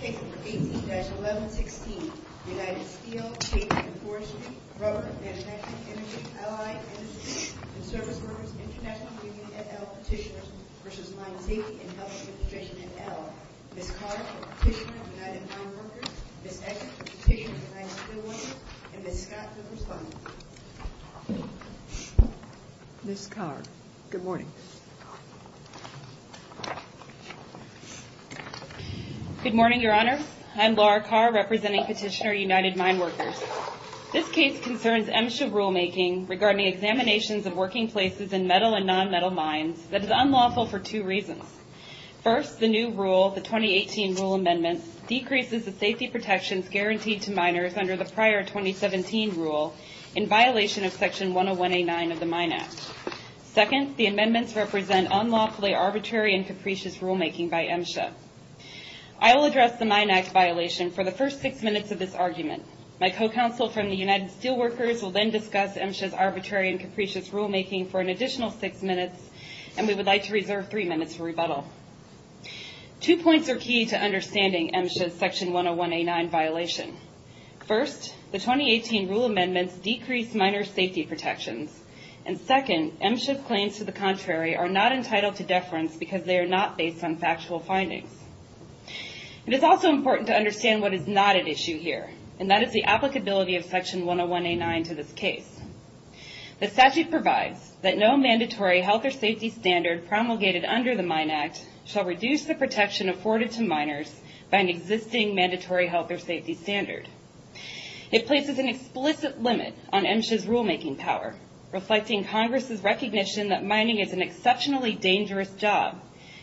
Case No. 18-1116, United Steel, Paper and Forestry, Rubber, Manufacturing, Energy, Allied Industrial and Service Workers International Union et al. Petitioners v. Mine Safety and Health Administration et al. Ms. Collard, Petitioner of United Mine Workers, Ms. Edgar, Petitioner of United Steel Workers, and Ms. Scott, the respondent. Ms. Collard. Good morning. Good morning, Your Honors. I'm Laura Carr, representing Petitioner of United Mine Workers. This case concerns MSHA rulemaking regarding examinations of working places in metal and non-metal mines that is unlawful for two reasons. First, the new rule, the 2018 rule amendment, decreases the safety protections guaranteed to miners under the prior 2017 rule in violation of Section 101A9 of the Mine Act. Second, the amendments represent unlawfully arbitrary and capricious rulemaking by MSHA. I will address the Mine Act violation for the first six minutes of this argument. My co-counsel from the United Steel Workers will then discuss MSHA's arbitrary and capricious rulemaking for an additional six minutes, and we would like to reserve three minutes for rebuttal. Two points are key to understanding MSHA's Section 101A9 violation. First, the 2018 rule amendments decrease miner safety protections, and second, MSHA's claims to the contrary are not entitled to deference because they are not based on factual findings. It is also important to understand what is not at issue here, and that is the applicability of Section 101A9 to this case. The statute provides that no mandatory health or safety standard promulgated under the Mine Act shall reduce the protection afforded to miners by an existing mandatory health or safety standard. It places an explicit limit on MSHA's rulemaking power, reflecting Congress' recognition that mining is an exceptionally dangerous job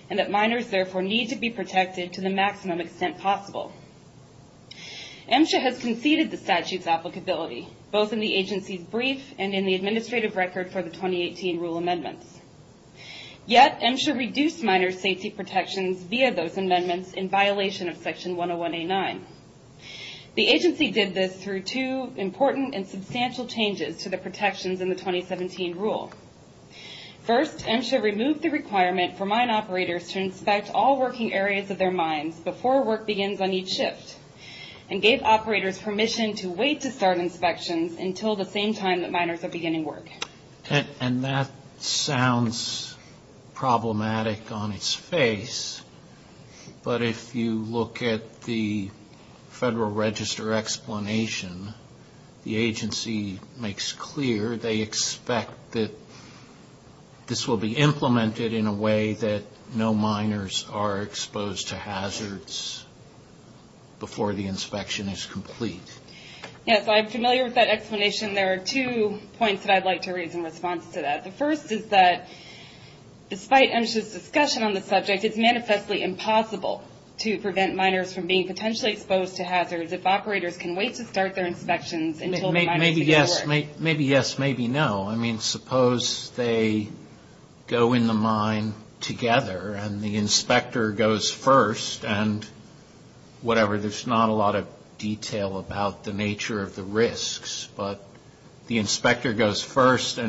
and that miners, therefore, need to be protected to the maximum extent possible. MSHA has conceded the statute's applicability, both in the agency's brief and in the administrative record for the 2018 rule amendments. Yet, MSHA reduced miner safety protections via those amendments in violation of Section 101A9. The agency did this through two important and substantial changes to the protections in the 2017 rule. First, MSHA removed the requirement for mine operators to inspect all working areas of their mines before work begins on each shift, and gave operators permission to wait to start inspections until the same time that miners are beginning work. And that sounds problematic on its face, but if you look at the Federal Register explanation, the agency makes clear they expect that this will be implemented in a way that no miners are exposed to hazards before the inspection is complete. Yes, I'm familiar with that explanation. There are two points that I'd like to raise in response to that. The first is that, despite MSHA's discussion on the subject, it's manifestly impossible to prevent miners from being potentially exposed to hazards if operators can wait to start their inspections until the miners begin work. But the inspector goes first, and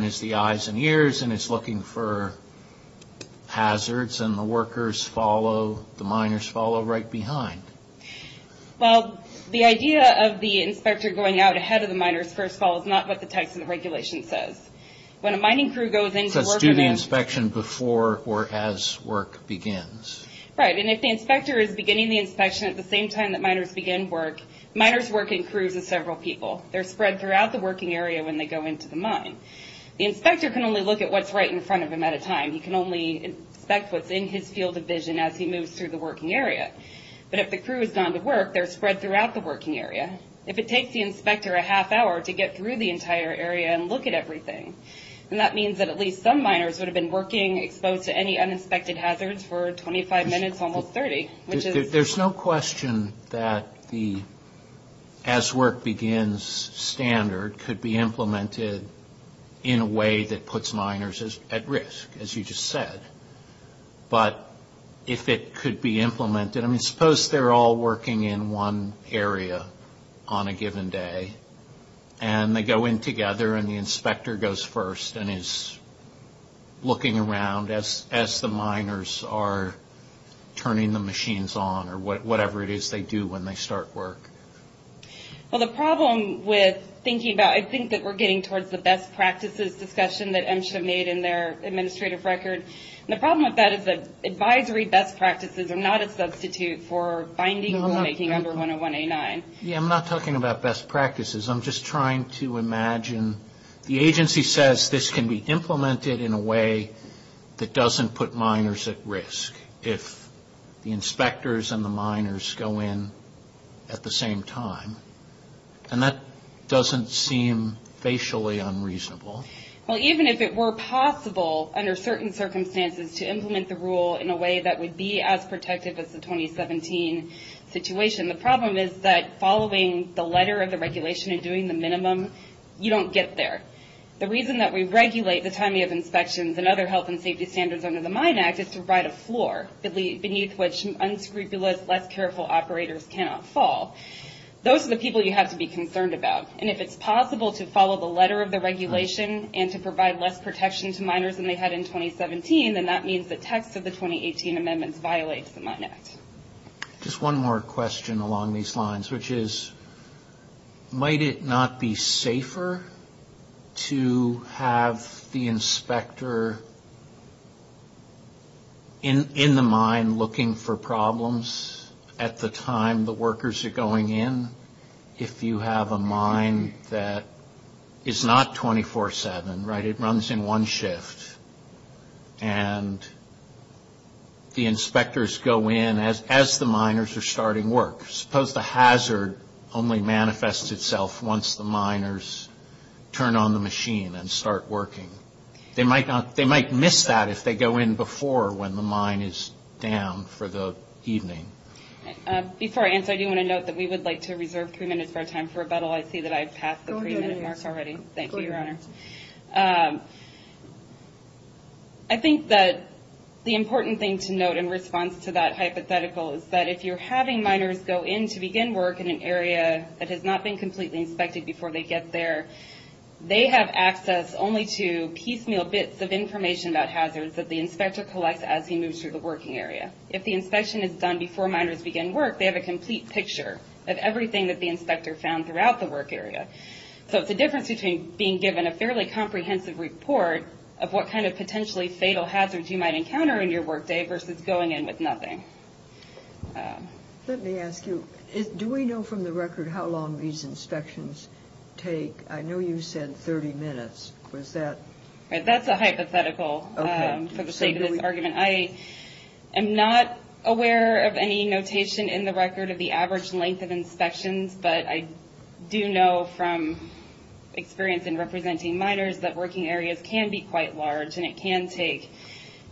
is the eyes and ears, and is looking for hazards, and the miners follow right behind. Well, the idea of the inspector going out ahead of the miners first is not what the text of the regulation says. When a mining crew goes in to work... Let's do the inspection before or as work begins. Right, and if the inspector is beginning the inspection at the same time that miners begin work, miners work in crews of several people. They're spread throughout the working area when they go into the mine. The inspector can only look at what's right in front of him at a time. He can only inspect what's in his field of vision as he moves through the working area. But if the crew has gone to work, they're spread throughout the working area. If it takes the inspector a half hour to get through the entire area and look at everything, then that means that at least some miners would have been working exposed to any uninspected hazards for 25 minutes, almost 30, which is... There's no question that the as work begins standard could be implemented in a way that puts miners at risk, as you just said. But if it could be implemented, I mean, suppose they're all working in one area on a given day, and they go in together and the inspector goes first and is looking around as the miners are turning the machines on, or whatever it is they do when they start work. Well, the problem with thinking about... I think that we're getting towards the best practices discussion that MSHA made in their administrative record. The problem with that is that advisory best practices are not a substitute for binding rulemaking under 101A9. Yeah, I'm not talking about best practices. I'm just trying to imagine the agency says this can be implemented in a way that doesn't put miners at risk if the inspectors and the miners go in at the same time. And that doesn't seem facially unreasonable. Well, even if it were possible under certain circumstances to implement the rule in a way that would be as protective as the 2017 situation, the problem is that following the letter of the regulation and doing the minimum, you don't get there. The reason that we regulate the timing of inspections and other health and safety standards under the Mine Act is to provide a floor beneath which unscrupulous, less careful operators cannot fall. Those are the people you have to be concerned about. And if it's possible to follow the letter of the regulation and to provide less protection to miners than they had in 2017, then that means the text of the 2018 amendments violates the Mine Act. Just one more question along these lines, which is might it not be safer to have the inspector in the mine looking for problems at the time the workers are going in if you have a mine that is not 24-7, right? The inspectors go in as the miners are starting work. Suppose the hazard only manifests itself once the miners turn on the machine and start working. They might miss that if they go in before when the mine is down for the evening. Before I answer, I do want to note that we would like to reserve three minutes for our time for rebuttal. I see that I've passed the three-minute mark already. Go ahead. Thank you, Your Honor. I think that the important thing to note in response to that hypothetical is that if you're having miners go in to begin work in an area that has not been completely inspected before they get there, they have access only to piecemeal bits of information about hazards that the inspector collects as he moves through the working area. If the inspection is done before miners begin work, they have a complete picture of everything that the inspector found throughout the work area. So it's the difference between being given a fairly comprehensive report of what kind of potentially fatal hazards you might encounter in your work day versus going in with nothing. Let me ask you, do we know from the record how long these inspections take? I know you said 30 minutes. That's a hypothetical for the sake of this argument. I am not aware of any notation in the record of the average length of inspections, but I do know from experience in representing miners that working areas can be quite large, and it can take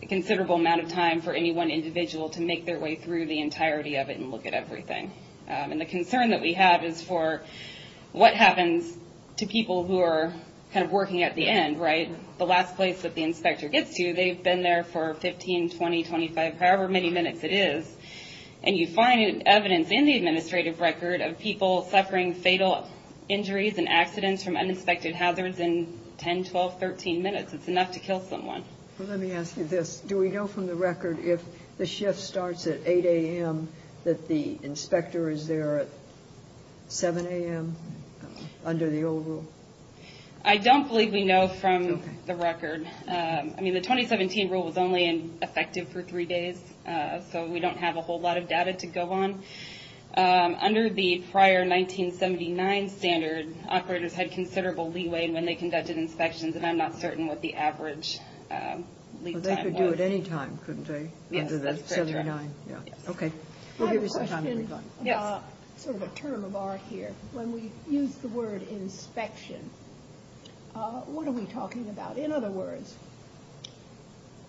a considerable amount of time for any one individual to make their way through the entirety of it and look at everything. The concern that we have is for what happens to people who are working at the end, right? The last place that the inspector gets to, they've been there for 15, 20, 25, however many minutes it is, and you find evidence in the administrative record of people suffering fatal injuries and accidents from uninspected hazards in 10, 12, 13 minutes. It's enough to kill someone. Let me ask you this. Do we know from the record if the shift starts at 8 a.m. that the inspector is there at 7 a.m. under the old rule? I don't believe we know from the record. I mean, the 2017 rule was only effective for three days, so we don't have a whole lot of data to go on. Under the prior 1979 standard, operators had considerable leeway when they conducted inspections, and I'm not certain what the average lead time was. They could do it any time, couldn't they, under the 79? Yes, that's correct. Okay. I have a question. It's sort of a turn of art here. When we use the word inspection, what are we talking about? In other words,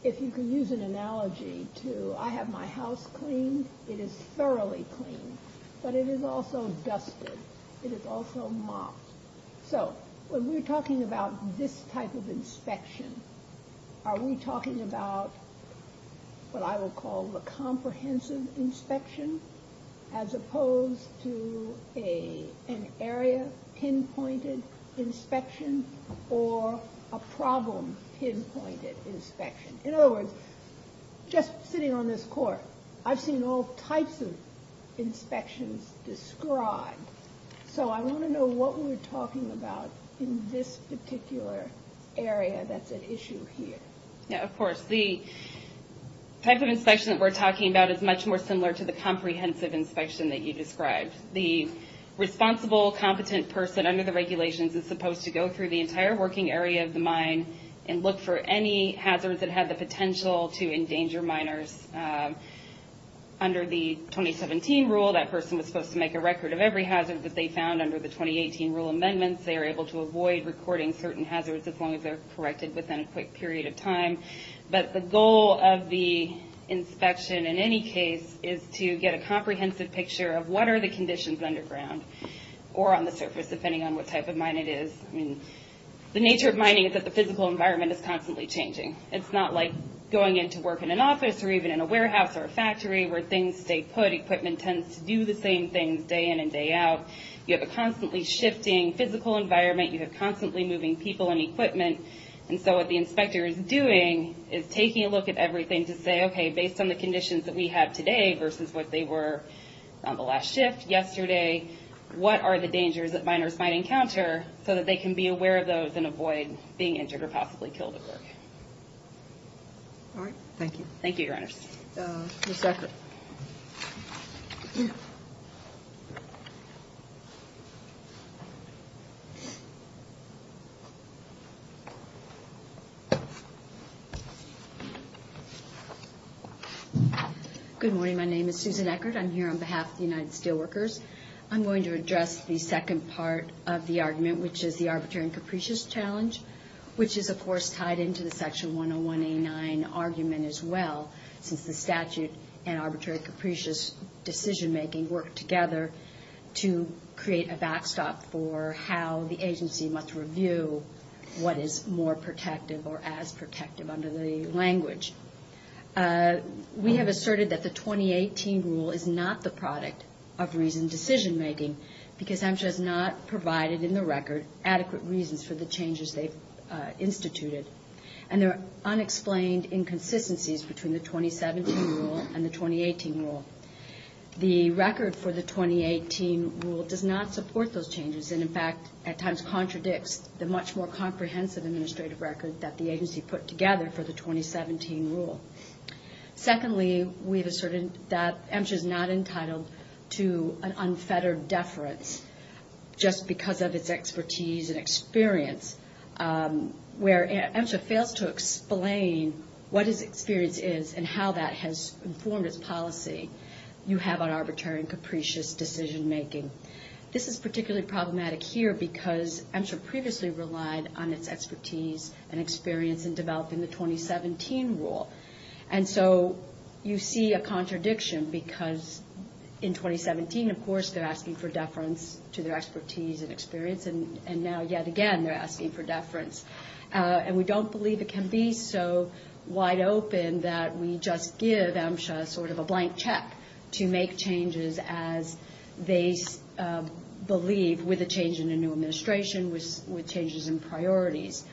if you can use an analogy to I have my house cleaned, it is thoroughly cleaned, but it is also dusted. It is also mopped. So when we're talking about this type of inspection, are we talking about what I would call the comprehensive inspection as opposed to an area pinpointed inspection or a problem pinpointed inspection? In other words, just sitting on this court, I've seen all types of inspections described, so I want to know what we're talking about in this particular area that's at issue here. Yeah, of course. The type of inspection that we're talking about is much more similar to the comprehensive inspection that you described. The responsible, competent person under the regulations is supposed to go through the entire working area of the mine and look for any hazards that have the potential to endanger miners. Under the 2017 rule, that person was supposed to make a record of every hazard that they found under the 2018 rule amendments. They are able to avoid recording certain hazards as long as they're corrected within a quick period of time. But the goal of the inspection in any case is to get a comprehensive picture of what are the conditions underground or on the surface, depending on what type of mine it is. The nature of mining is that the physical environment is constantly changing. It's not like going into work in an office or even in a warehouse or a factory where things stay put. Equipment tends to do the same things day in and day out. You have a constantly shifting physical environment. You have constantly moving people and equipment. And so what the inspector is doing is taking a look at everything to say, okay, based on the conditions that we have today versus what they were on the last shift yesterday, what are the dangers that miners might encounter so that they can be aware of those and avoid being injured or possibly killed at work. All right. Thank you. Thank you, your honors. Ms. Eckert. Good morning. My name is Susan Eckert. I'm here on behalf of the United Steelworkers. I'm going to address the second part of the argument, which is the arbitrary and capricious challenge, which is, of course, tied into the Section 101A9 argument as well, since the statute and arbitrary and capricious decision-making work together to create a backstop for how the agency must review what is more protective or as protective under the language. We have asserted that the 2018 rule is not the product of reasoned decision-making because HMSA has not provided in the record adequate reasons for the changes they've instituted. And there are unexplained inconsistencies between the 2017 rule and the 2018 rule. The record for the 2018 rule does not support those changes and, in fact, at times contradicts the much more comprehensive administrative record that the agency put together for the 2017 rule. Secondly, we have asserted that HMSA is not entitled to an unfettered deference just because of its expertise and experience, where HMSA fails to explain what its experience is and how that has informed its policy. You have an arbitrary and capricious decision-making. This is particularly problematic here because HMSA previously relied on its expertise and experience in developing the 2017 rule. And so you see a contradiction because in 2017, of course, they're asking for deference to their expertise and experience, and now yet again they're asking for deference. And we don't believe it can be so wide open that we just give HMSA sort of a blank check to make changes as they believe, with a change in the new administration, with changes in priorities.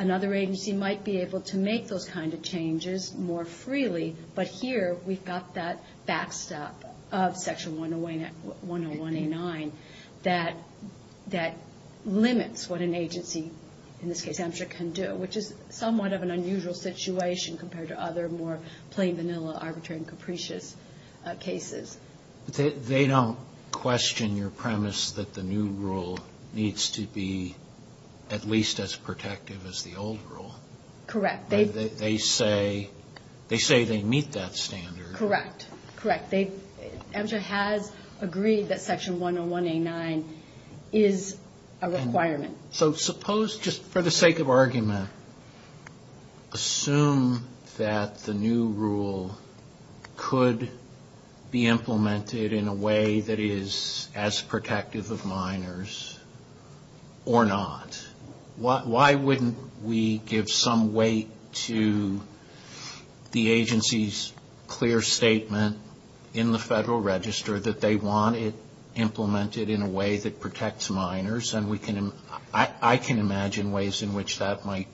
Another agency might be able to make those kind of changes more freely, but here we've got that backstop of Section 101A9 that limits what an agency, in this case HMSA, can do, which is somewhat of an unusual situation compared to other more plain, vanilla, arbitrary, and capricious cases. They don't question your premise that the new rule needs to be at least as protective as the old rule. Correct. They say they meet that standard. Correct. Correct. HMSA has agreed that Section 101A9 is a requirement. So suppose, just for the sake of argument, assume that the new rule could be implemented in a way that is as protective of minors or not. Why wouldn't we give some weight to the agency's clear statement in the Federal Register that they want it implemented in a way that protects minors and I can imagine ways in which that might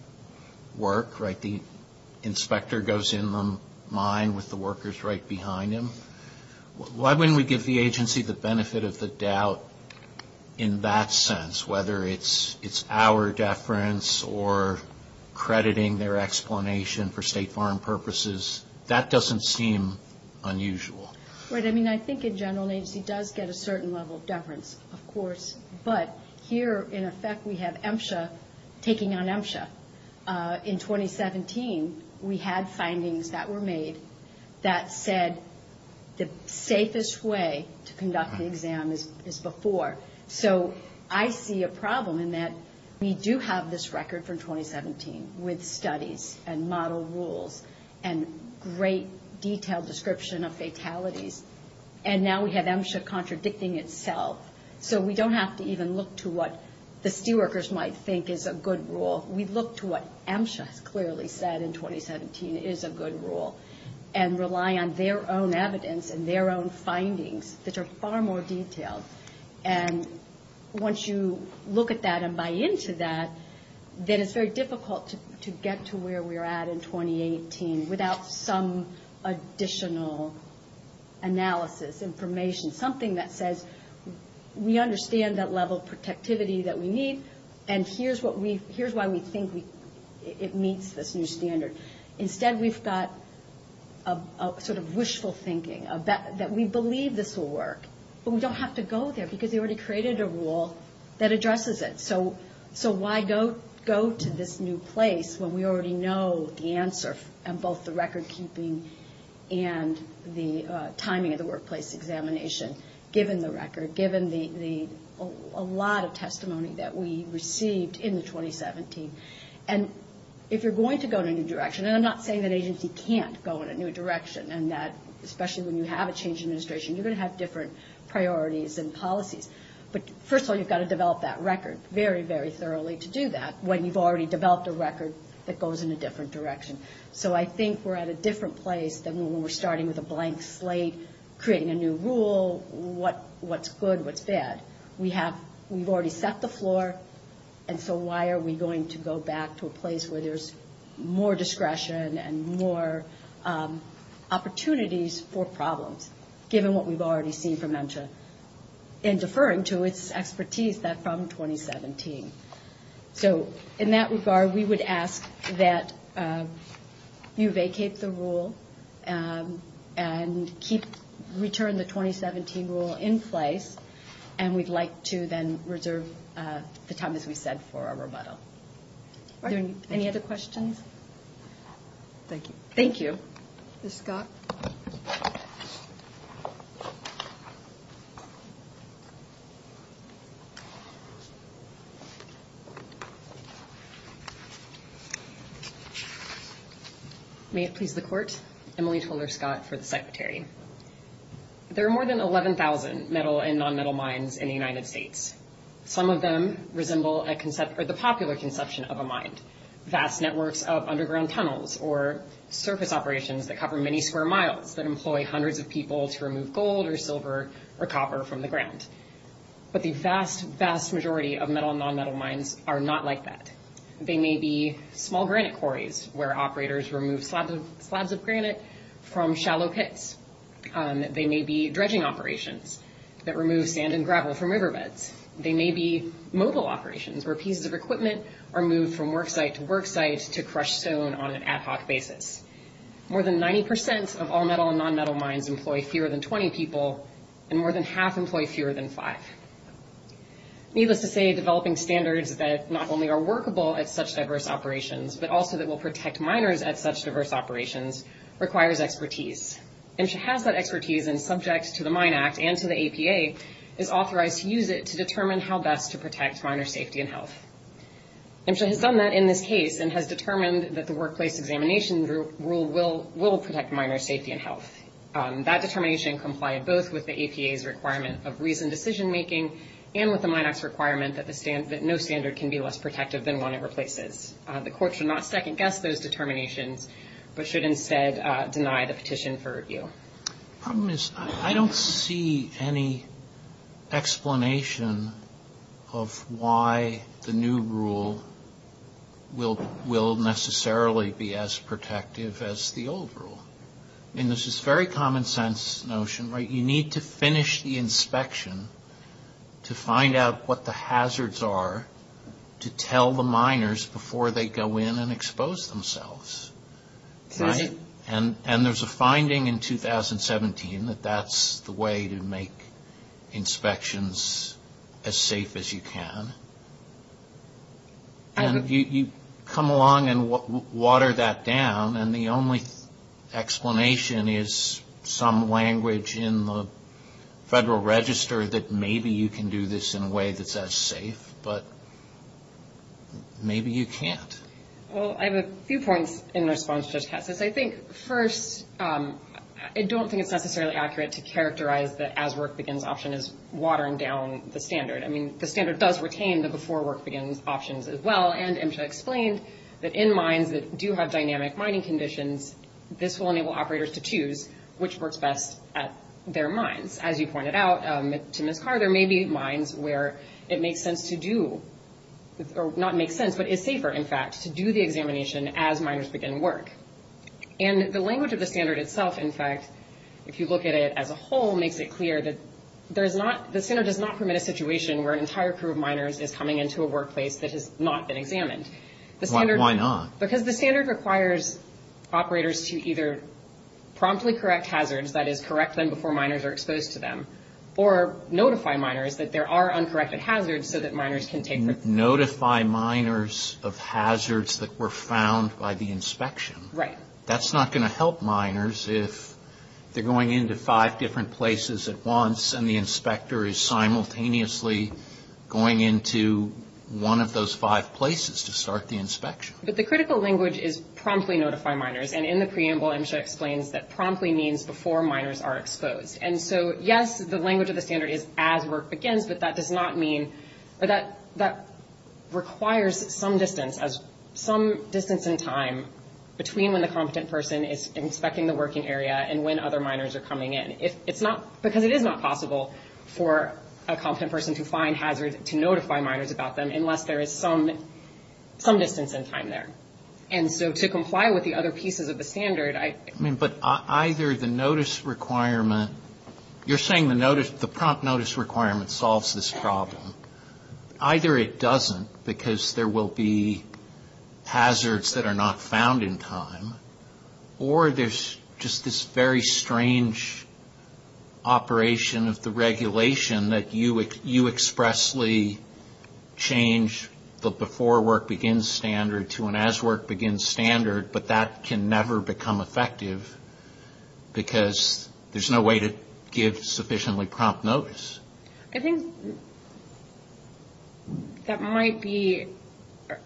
work, right? The inspector goes in the mine with the workers right behind him. Why wouldn't we give the agency the benefit of the doubt in that sense, whether it's our deference or crediting their explanation for State Farm purposes? That doesn't seem unusual. Right. I mean, I think in general an agency does get a certain level of deference, of course, but here, in effect, we have HMSA taking on HMSA. In 2017, we had findings that were made that said the safest way to conduct the exam is before. So I see a problem in that we do have this record from 2017 with studies and model rules and great detailed description of fatalities, and now we have HMSA contradicting itself. So we don't have to even look to what the STE workers might think is a good rule. We look to what HMSA has clearly said in 2017 is a good rule and rely on their own evidence and their own findings that are far more detailed. And once you look at that and buy into that, then it's very difficult to get to where we're at in 2018 without some additional analysis, information, something that says we understand that level of protectivity that we need and here's why we think it meets this new standard. Instead, we've got a sort of wishful thinking that we believe this will work, but we don't have to go there because they already created a rule that addresses it. So why go to this new place when we already know the answer and both the record keeping and the timing of the workplace examination, given the record, given a lot of testimony that we received in the 2017. And if you're going to go in a new direction, and I'm not saying that agency can't go in a new direction, and that especially when you have a change in administration, you're going to have different priorities and policies. But first of all, you've got to develop that record very, very thoroughly to do that when you've already developed a record that goes in a different direction. So I think we're at a different place than when we're starting with a blank slate, creating a new rule, what's good, what's bad. We've already set the floor, and so why are we going to go back to a place where there's more discretion and more opportunities for problems, given what we've already seen from MNCHA in deferring to its expertise from 2017. So in that regard, we would ask that you vacate the rule and return the 2017 rule in place, and we'd like to then reserve the time, as we said, for our rebuttal. Are there any other questions? Thank you. Thank you. Ms. Scott? Thank you. May it please the Court, Emily Toler-Scott for the Secretary. There are more than 11,000 metal and nonmetal mines in the United States. Some of them resemble the popular conception of a mine, vast networks of underground tunnels or surface operations that cover many square miles that employ hundreds of people to remove gold or silver or copper from the ground. But the vast, vast majority of metal and nonmetal mines are not like that. They may be small granite quarries where operators remove slabs of granite from shallow pits. They may be dredging operations that remove sand and gravel from riverbeds. They may be mobile operations where pieces of equipment are moved from worksite to worksite to crush stone on an ad hoc basis. More than 90 percent of all metal and nonmetal mines employ fewer than 20 people, and more than half employ fewer than five. Needless to say, developing standards that not only are workable at such diverse operations but also that will protect miners at such diverse operations requires expertise. MSHA has that expertise and, subject to the Mine Act and to the APA, is authorized to use it to determine how best to protect miners' safety and health. MSHA has done that in this case and has determined that the workplace examination rule will protect miners' safety and health. That determination complied both with the APA's requirement of reasoned decision-making and with the Mine Act's requirement that no standard can be less protective than one it replaces. The Court should not second-guess those determinations but should instead deny the petition for review. The problem is I don't see any explanation of why the new rule will necessarily be as protective as the old rule. I mean, this is very common-sense notion, right? You need to finish the inspection to find out what the hazards are to tell the miners before they go in and expose themselves, right? And there's a finding in 2017 that that's the way to make inspections as safe as you can. And you come along and water that down and the only explanation is some language in the Federal Register that maybe you can do this in a way that's as safe, but maybe you can't. Well, I have a few points in response to Judge Cassis. I think, first, I don't think it's necessarily accurate to characterize the as-work-begins option as watering down the standard. I mean, the standard does retain the before-work-begins options as well, and MSHA explained that in mines that do have dynamic mining conditions, this will enable operators to choose which works best at their mines. As you pointed out to Ms. Carter, there may be mines where it makes sense to do, or not makes sense, but is safer, in fact, to do the examination as miners begin work. And the language of the standard itself, in fact, if you look at it as a whole, makes it clear that the standard does not permit a situation where an entire crew of miners is coming into a workplace that has not been examined. Why not? Because the standard requires operators to either promptly correct hazards, that is, correct them before miners are exposed to them, or notify miners that there are uncorrected hazards so that miners can take them. Notify miners of hazards that were found by the inspection. Right. That's not going to help miners if they're going into five different places at once and the inspector is simultaneously going into one of those five places to start the inspection. But the critical language is promptly notify miners, and in the preamble MSHA explains that promptly means before miners are exposed. And so, yes, the language of the standard is as work begins, but that does not mean or that requires some distance as some distance in time between when the competent person is inspecting the working area and when other miners are coming in. It's not because it is not possible for a competent person to find hazards to notify miners about them unless there is some distance in time there. And so to comply with the other pieces of the standard. But either the notice requirement, you're saying the prompt notice requirement solves this problem. Either it doesn't because there will be hazards that are not found in time, or there's just this very strange operation of the regulation that you expressly change the before work begins standard to an as work begins standard, but that can never become effective because there's no way to give sufficiently prompt notice. I think that might be,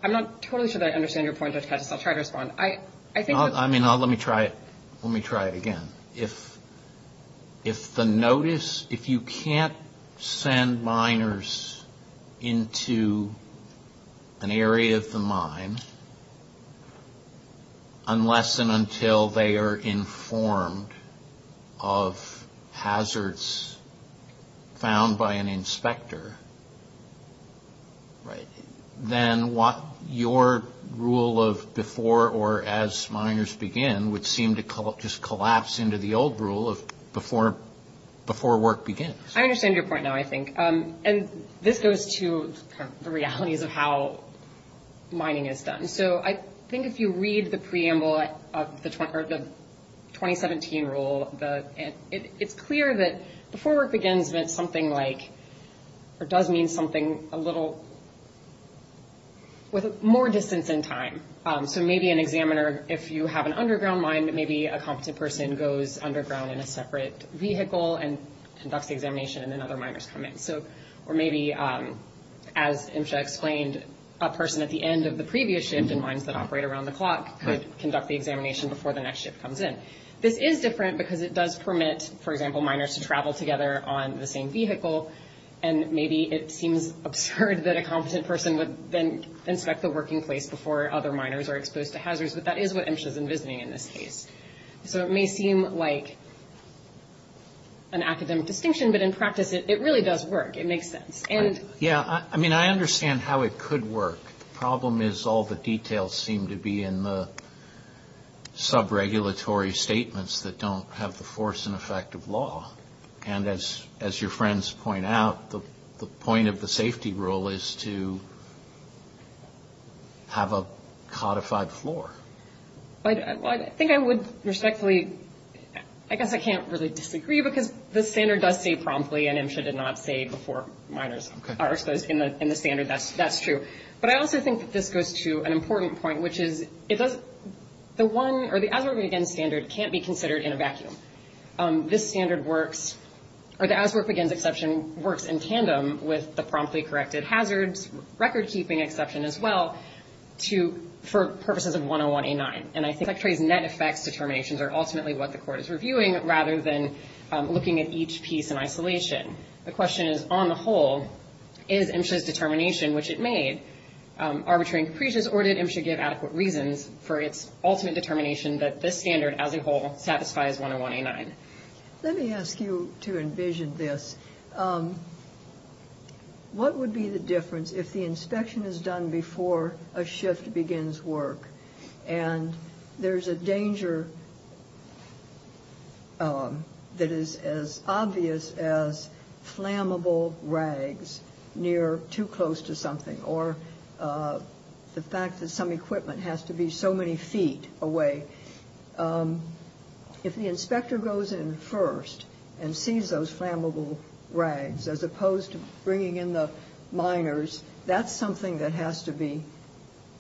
I'm not totally sure that I understand your point, Judge Katz. I'll try to respond. I mean, let me try it again. If the notice, if you can't send miners into an area of the mine unless and until they are informed of hazards found by an inspector, then what your rule of before or as miners begin would seem to just collapse into the old rule of before work begins. I understand your point now, I think. And this goes to the realities of how mining is done. So I think if you read the preamble of the 2017 rule, it's clear that before work begins meant something like, or does mean something a little, with more distance in time. So maybe an examiner, if you have an underground mine, maybe a competent person goes underground in a separate vehicle and conducts the examination and then other miners come in. Or maybe, as Imcha explained, a person at the end of the previous shift in mines that operate around the clock could conduct the examination before the next shift comes in. This is different because it does permit, for example, miners to travel together on the same vehicle, and maybe it seems absurd that a competent person would then inspect the working place before other miners are exposed to hazards, but that is what Imcha is envisioning in this case. So it may seem like an academic distinction, but in practice it really does work. It makes sense. Yeah, I mean, I understand how it could work. The problem is all the details seem to be in the sub-regulatory statements that don't have the force and effect of law. And as your friends point out, the point of the safety rule is to have a codified floor. I think I would respectfully, I guess I can't really disagree because the standard does say promptly, and Imcha did not say before miners are exposed in the standard, that's true. But I also think that this goes to an important point, which is the one or the hazard against standard can't be considered in a vacuum. This standard works, or the as work begins exception works in tandem with the promptly corrected hazards, record-keeping exception as well, for purposes of 101A9. And I think Secretary's net effects determinations are ultimately what the court is reviewing, rather than looking at each piece in isolation. The question is, on the whole, is Imcha's determination, which it made, arbitrary and capricious, or did Imcha give adequate reasons for its ultimate determination that this standard, as a whole, satisfies 101A9? Let me ask you to envision this. What would be the difference if the inspection is done before a shift begins work, and there's a danger that is as obvious as flammable rags near too close to something, or the fact that some equipment has to be so many feet away? If the inspector goes in first and sees those flammable rags, as opposed to bringing in the miners, that's something that has to be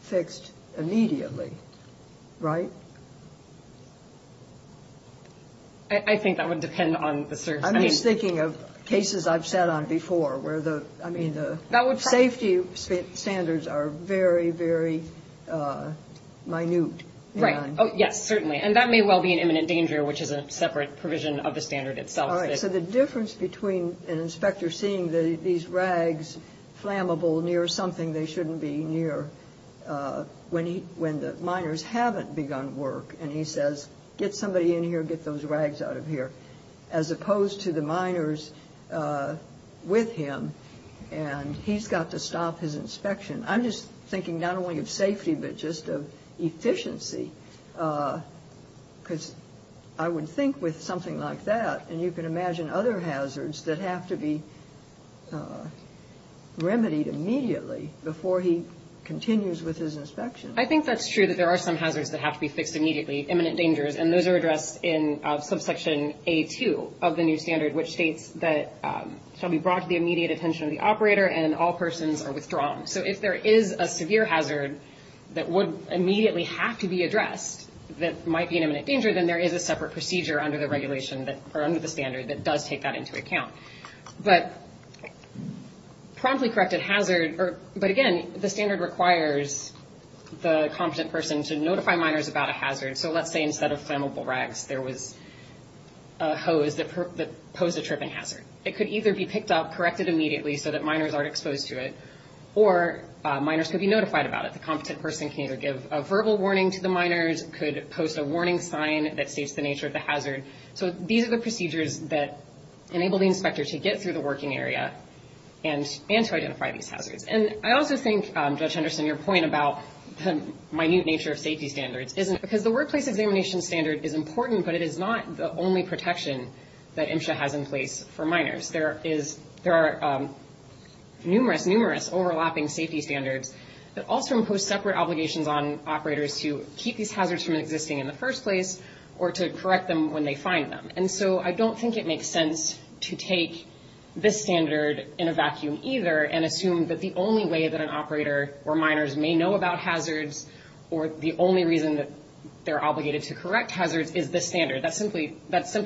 fixed immediately, right? I think that would depend on the circumstances. I'm just thinking of cases I've sat on before, where the safety standards are very, very minute. Right. Yes, certainly. And that may well be an imminent danger, which is a separate provision of the standard itself. All right. So the difference between an inspector seeing these rags flammable near something they shouldn't be near, when the miners haven't begun work, and he says, get somebody in here, get those rags out of here, as opposed to the miners with him, and he's got to stop his inspection. I'm just thinking not only of safety, but just of efficiency, because I would think with something like that, and you can imagine other hazards that have to be remedied immediately before he continues with his inspection. I think that's true, that there are some hazards that have to be fixed immediately, imminent dangers, and those are addressed in subsection A2 of the new standard, which states that shall be brought to the immediate attention of the operator, and all persons are withdrawn. So if there is a severe hazard that would immediately have to be addressed, that might be an imminent danger, then there is a separate procedure under the regulation, or under the standard, that does take that into account. But promptly corrected hazard, but again, the standard requires the competent person to notify miners about a hazard. So let's say instead of flammable rags, there was a hose that posed a tripping hazard. It could either be picked up, corrected immediately so that miners aren't exposed to it, or miners could be notified about it. The competent person can either give a verbal warning to the miners, could post a warning sign that states the nature of the hazard. So these are the procedures that enable the inspector to get through the working area and to identify these hazards. And I also think, Judge Henderson, your point about the minute nature of safety standards, because the workplace examination standard is important, but it is not the only protection that MSHA has in place for miners. There are numerous, numerous overlapping safety standards that also impose separate obligations on operators to keep these hazards from existing in the first place, or to correct them when they find them. And so I don't think it makes sense to take this standard in a vacuum either, and assume that the only way that an operator or miners may know about hazards, or the only reason that they're obligated to correct hazards is this standard. That's simply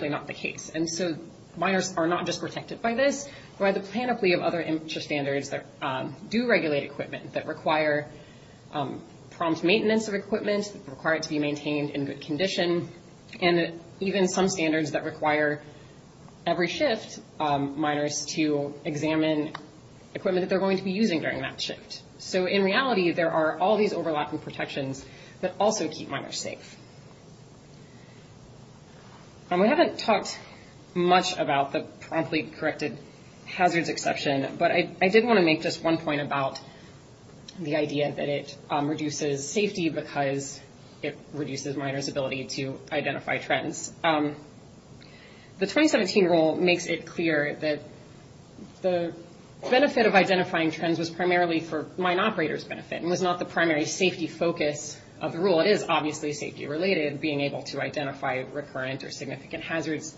not the case. And so miners are not just protected by this, but by the panoply of other MSHA standards that do regulate equipment, that require prompt maintenance of equipment, require it to be maintained in good condition, and even some standards that require every shift miners to examine equipment that they're going to be using during that shift. So in reality, there are all these overlapping protections that also keep miners safe. And we haven't talked much about the promptly corrected hazards exception, but I did want to make just one point about the idea that it reduces safety because it reduces miners' ability to identify trends. The 2017 rule makes it clear that the benefit of identifying trends was primarily for mine operators' benefit, and was not the primary safety focus of the rule. It is obviously safety-related. Being able to identify recurrent or significant hazards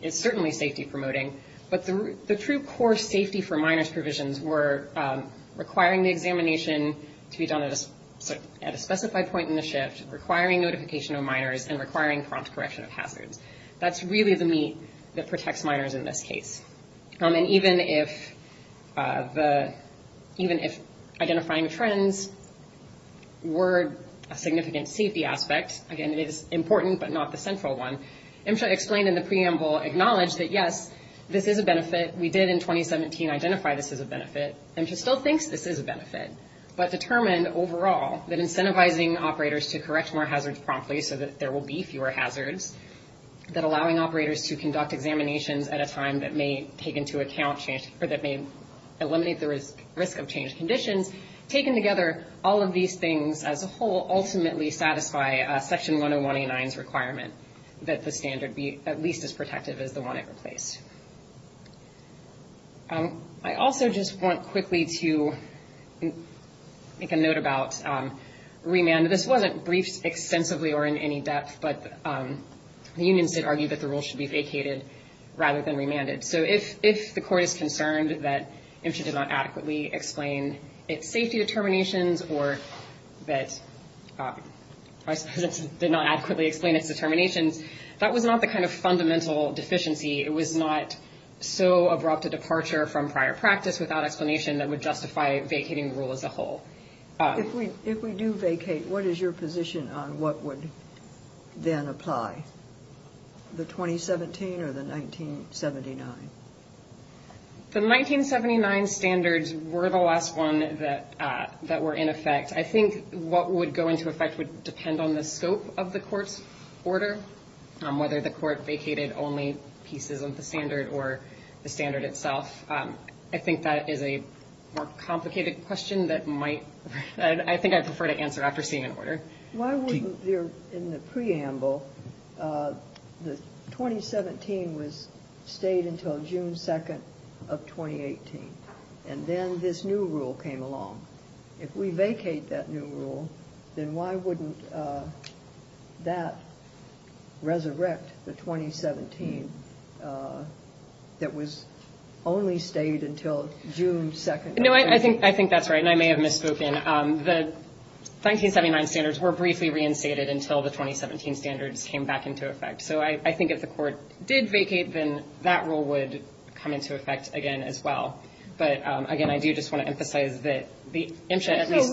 is certainly safety-promoting. But the true core safety for miners' provisions were requiring the examination to be done at a specified point in the shift, requiring notification of miners, and requiring prompt correction of hazards. That's really the meat that protects miners in this case. And even if identifying trends were a significant safety aspect, again, it is important but not the central one, MSHA explained in the preamble, acknowledged that, yes, this is a benefit. We did in 2017 identify this as a benefit. MSHA still thinks this is a benefit, but determined overall that incentivizing operators to correct more hazards promptly so that there will be fewer hazards, that allowing operators to conduct examinations at a time that may take into account change or that may eliminate the risk of change conditions, taken together, all of these things as a whole ultimately satisfy Section 10189's requirement that the standard be at least as protective as the one it replaced. I also just want quickly to make a note about remand. This wasn't briefed extensively or in any depth, but the unions did argue that the rule should be vacated rather than remanded. So if the Court is concerned that MSHA did not adequately explain its safety determinations or that MSHA did not adequately explain its determinations, that was not the kind of fundamental deficiency. It was not so abrupt a departure from prior practice without explanation that would justify vacating the rule as a whole. If we do vacate, what is your position on what would then apply, the 2017 or the 1979? The 1979 standards were the last one that were in effect. I think what would go into effect would depend on the scope of the Court's order, whether the Court vacated only pieces of the standard or the standard itself. I think that is a more complicated question that I think I'd prefer to answer after seeing an order. Why wouldn't there in the preamble, the 2017 stayed until June 2nd of 2018, and then this new rule came along? If we vacate that new rule, then why wouldn't that resurrect the 2017 that was only stayed until June 2nd? No, I think that's right, and I may have misspoken. The 1979 standards were briefly reinstated until the 2017 standards came back into effect. So I think if the Court did vacate, then that rule would come into effect again as well. But, again, I do just want to emphasize that the MSHA at least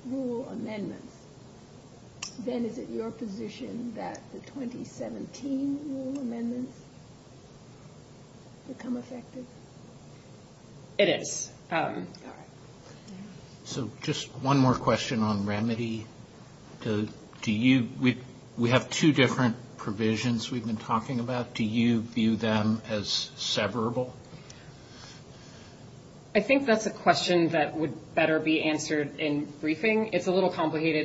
— then is it your position that the 2017 rule amendments become effective? It is. All right. So just one more question on remedy. Do you — we have two different provisions we've been talking about. Do you view them as severable? Well, I mean,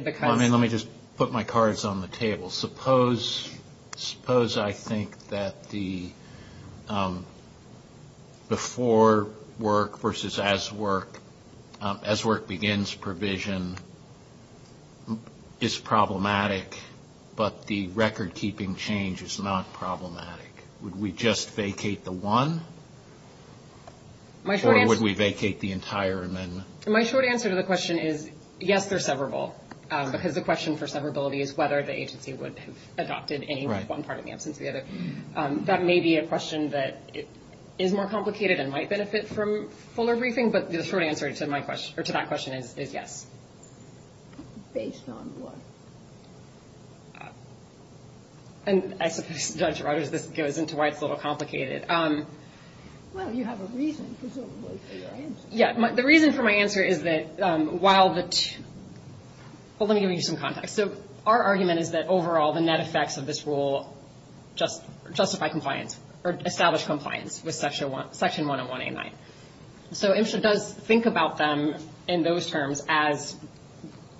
let me just put my cards on the table. Suppose I think that the before work versus as work, as work begins provision is problematic, but the record-keeping change is not problematic. Would we just vacate the one, or would we vacate the entire amendment? My short answer to the question is, yes, they're severable, because the question for severability is whether the agency would have adopted any one part in the absence of the other. That may be a question that is more complicated and might benefit from fuller briefing, but the short answer to that question is yes. Based on what? And I suppose, Judge Rogers, this goes into why it's a little complicated. Well, you have a reason, presumably, for your answer. Yeah, the reason for my answer is that while the two — well, let me give you some context. So our argument is that, overall, the net effects of this rule justify compliance or establish compliance with Section 101A9. So MSHA does think about them in those terms as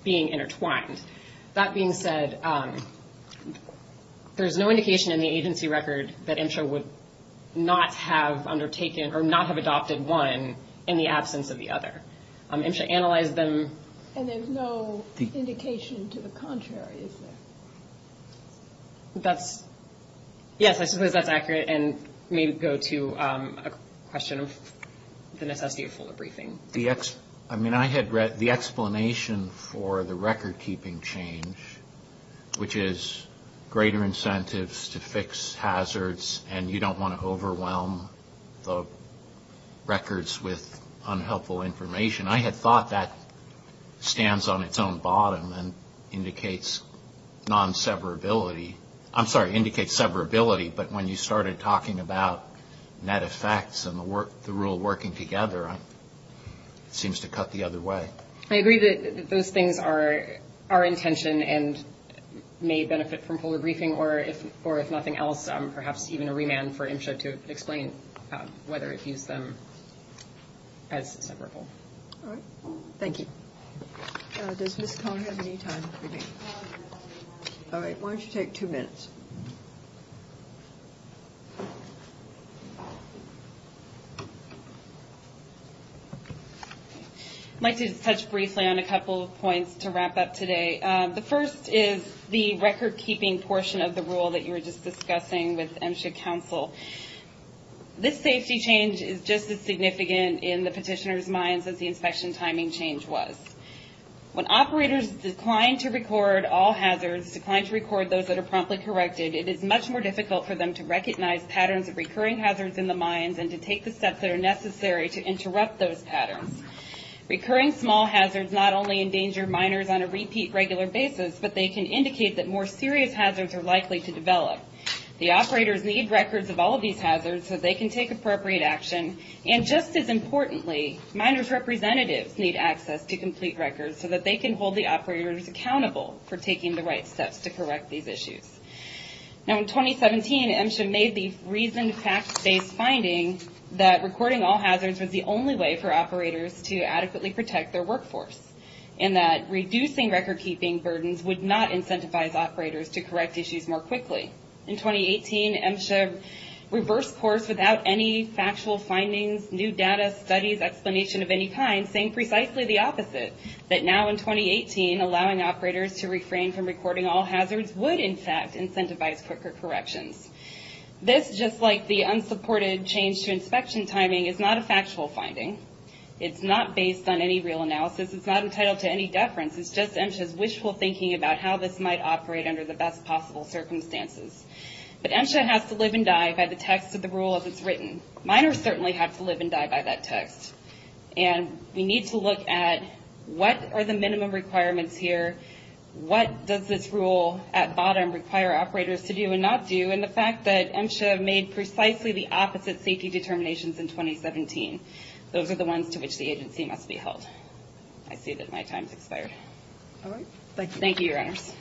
being intertwined. That being said, there's no indication in the agency record that MSHA would not have undertaken or not have adopted one in the absence of the other. MSHA analyzed them. And there's no indication to the contrary, is there? That's — yes, I suppose that's accurate and may go to a question of the necessity of fuller briefing. I mean, I had read the explanation for the record-keeping change, which is greater incentives to fix hazards, and you don't want to overwhelm the records with unhelpful information. I had thought that stands on its own bottom and indicates non-severability. I'm sorry, indicates severability. But when you started talking about net effects and the rule working together, it seems to cut the other way. I agree that those things are our intention and may benefit from fuller briefing, or if nothing else, perhaps even a remand for MSHA to explain whether it views them as severable. All right. Thank you. Does Ms. Cohn have any time for me? All right. Why don't you take two minutes? I'd like to touch briefly on a couple of points to wrap up today. The first is the record-keeping portion of the rule that you were just discussing with MSHA counsel. This safety change is just as significant in the petitioner's minds as the inspection timing change was. When operators decline to record all hazards, decline to record those that are promptly corrected, it is much more difficult for them to recognize patterns of recurring hazards in the mines and to take the steps that are necessary to interrupt those patterns. Recurring small hazards not only endanger miners on a repeat regular basis, but they can indicate that more serious hazards are likely to develop. The operators need records of all of these hazards so they can take appropriate action, and just as importantly, miners' representatives need access to complete records so that they can hold the operators accountable for taking the right steps to correct these issues. Now in 2017, MSHA made the reasoned fact-based finding that recording all hazards was the only way for operators to adequately protect their workforce, and that reducing record-keeping burdens would not incentivize operators to correct issues more quickly. In 2018, MSHA reversed course without any factual findings, new data, studies, explanation of any kind, saying precisely the opposite, that now in 2018, allowing operators to refrain from recording all hazards would, in fact, incentivize quicker corrections. This, just like the unsupported change to inspection timing, is not a factual finding. It's not based on any real analysis. It's not entitled to any deference. It's just MSHA's wishful thinking about how this might operate under the best possible circumstances. But MSHA has to live and die by the text of the rule as it's written. Miners certainly have to live and die by that text, and we need to look at what are the minimum requirements here, what does this rule at bottom require operators to do and not do, and the fact that MSHA made precisely the opposite safety determinations in 2017. Those are the ones to which the agency must be held. I see that my time has expired. Thank you, Your Honors.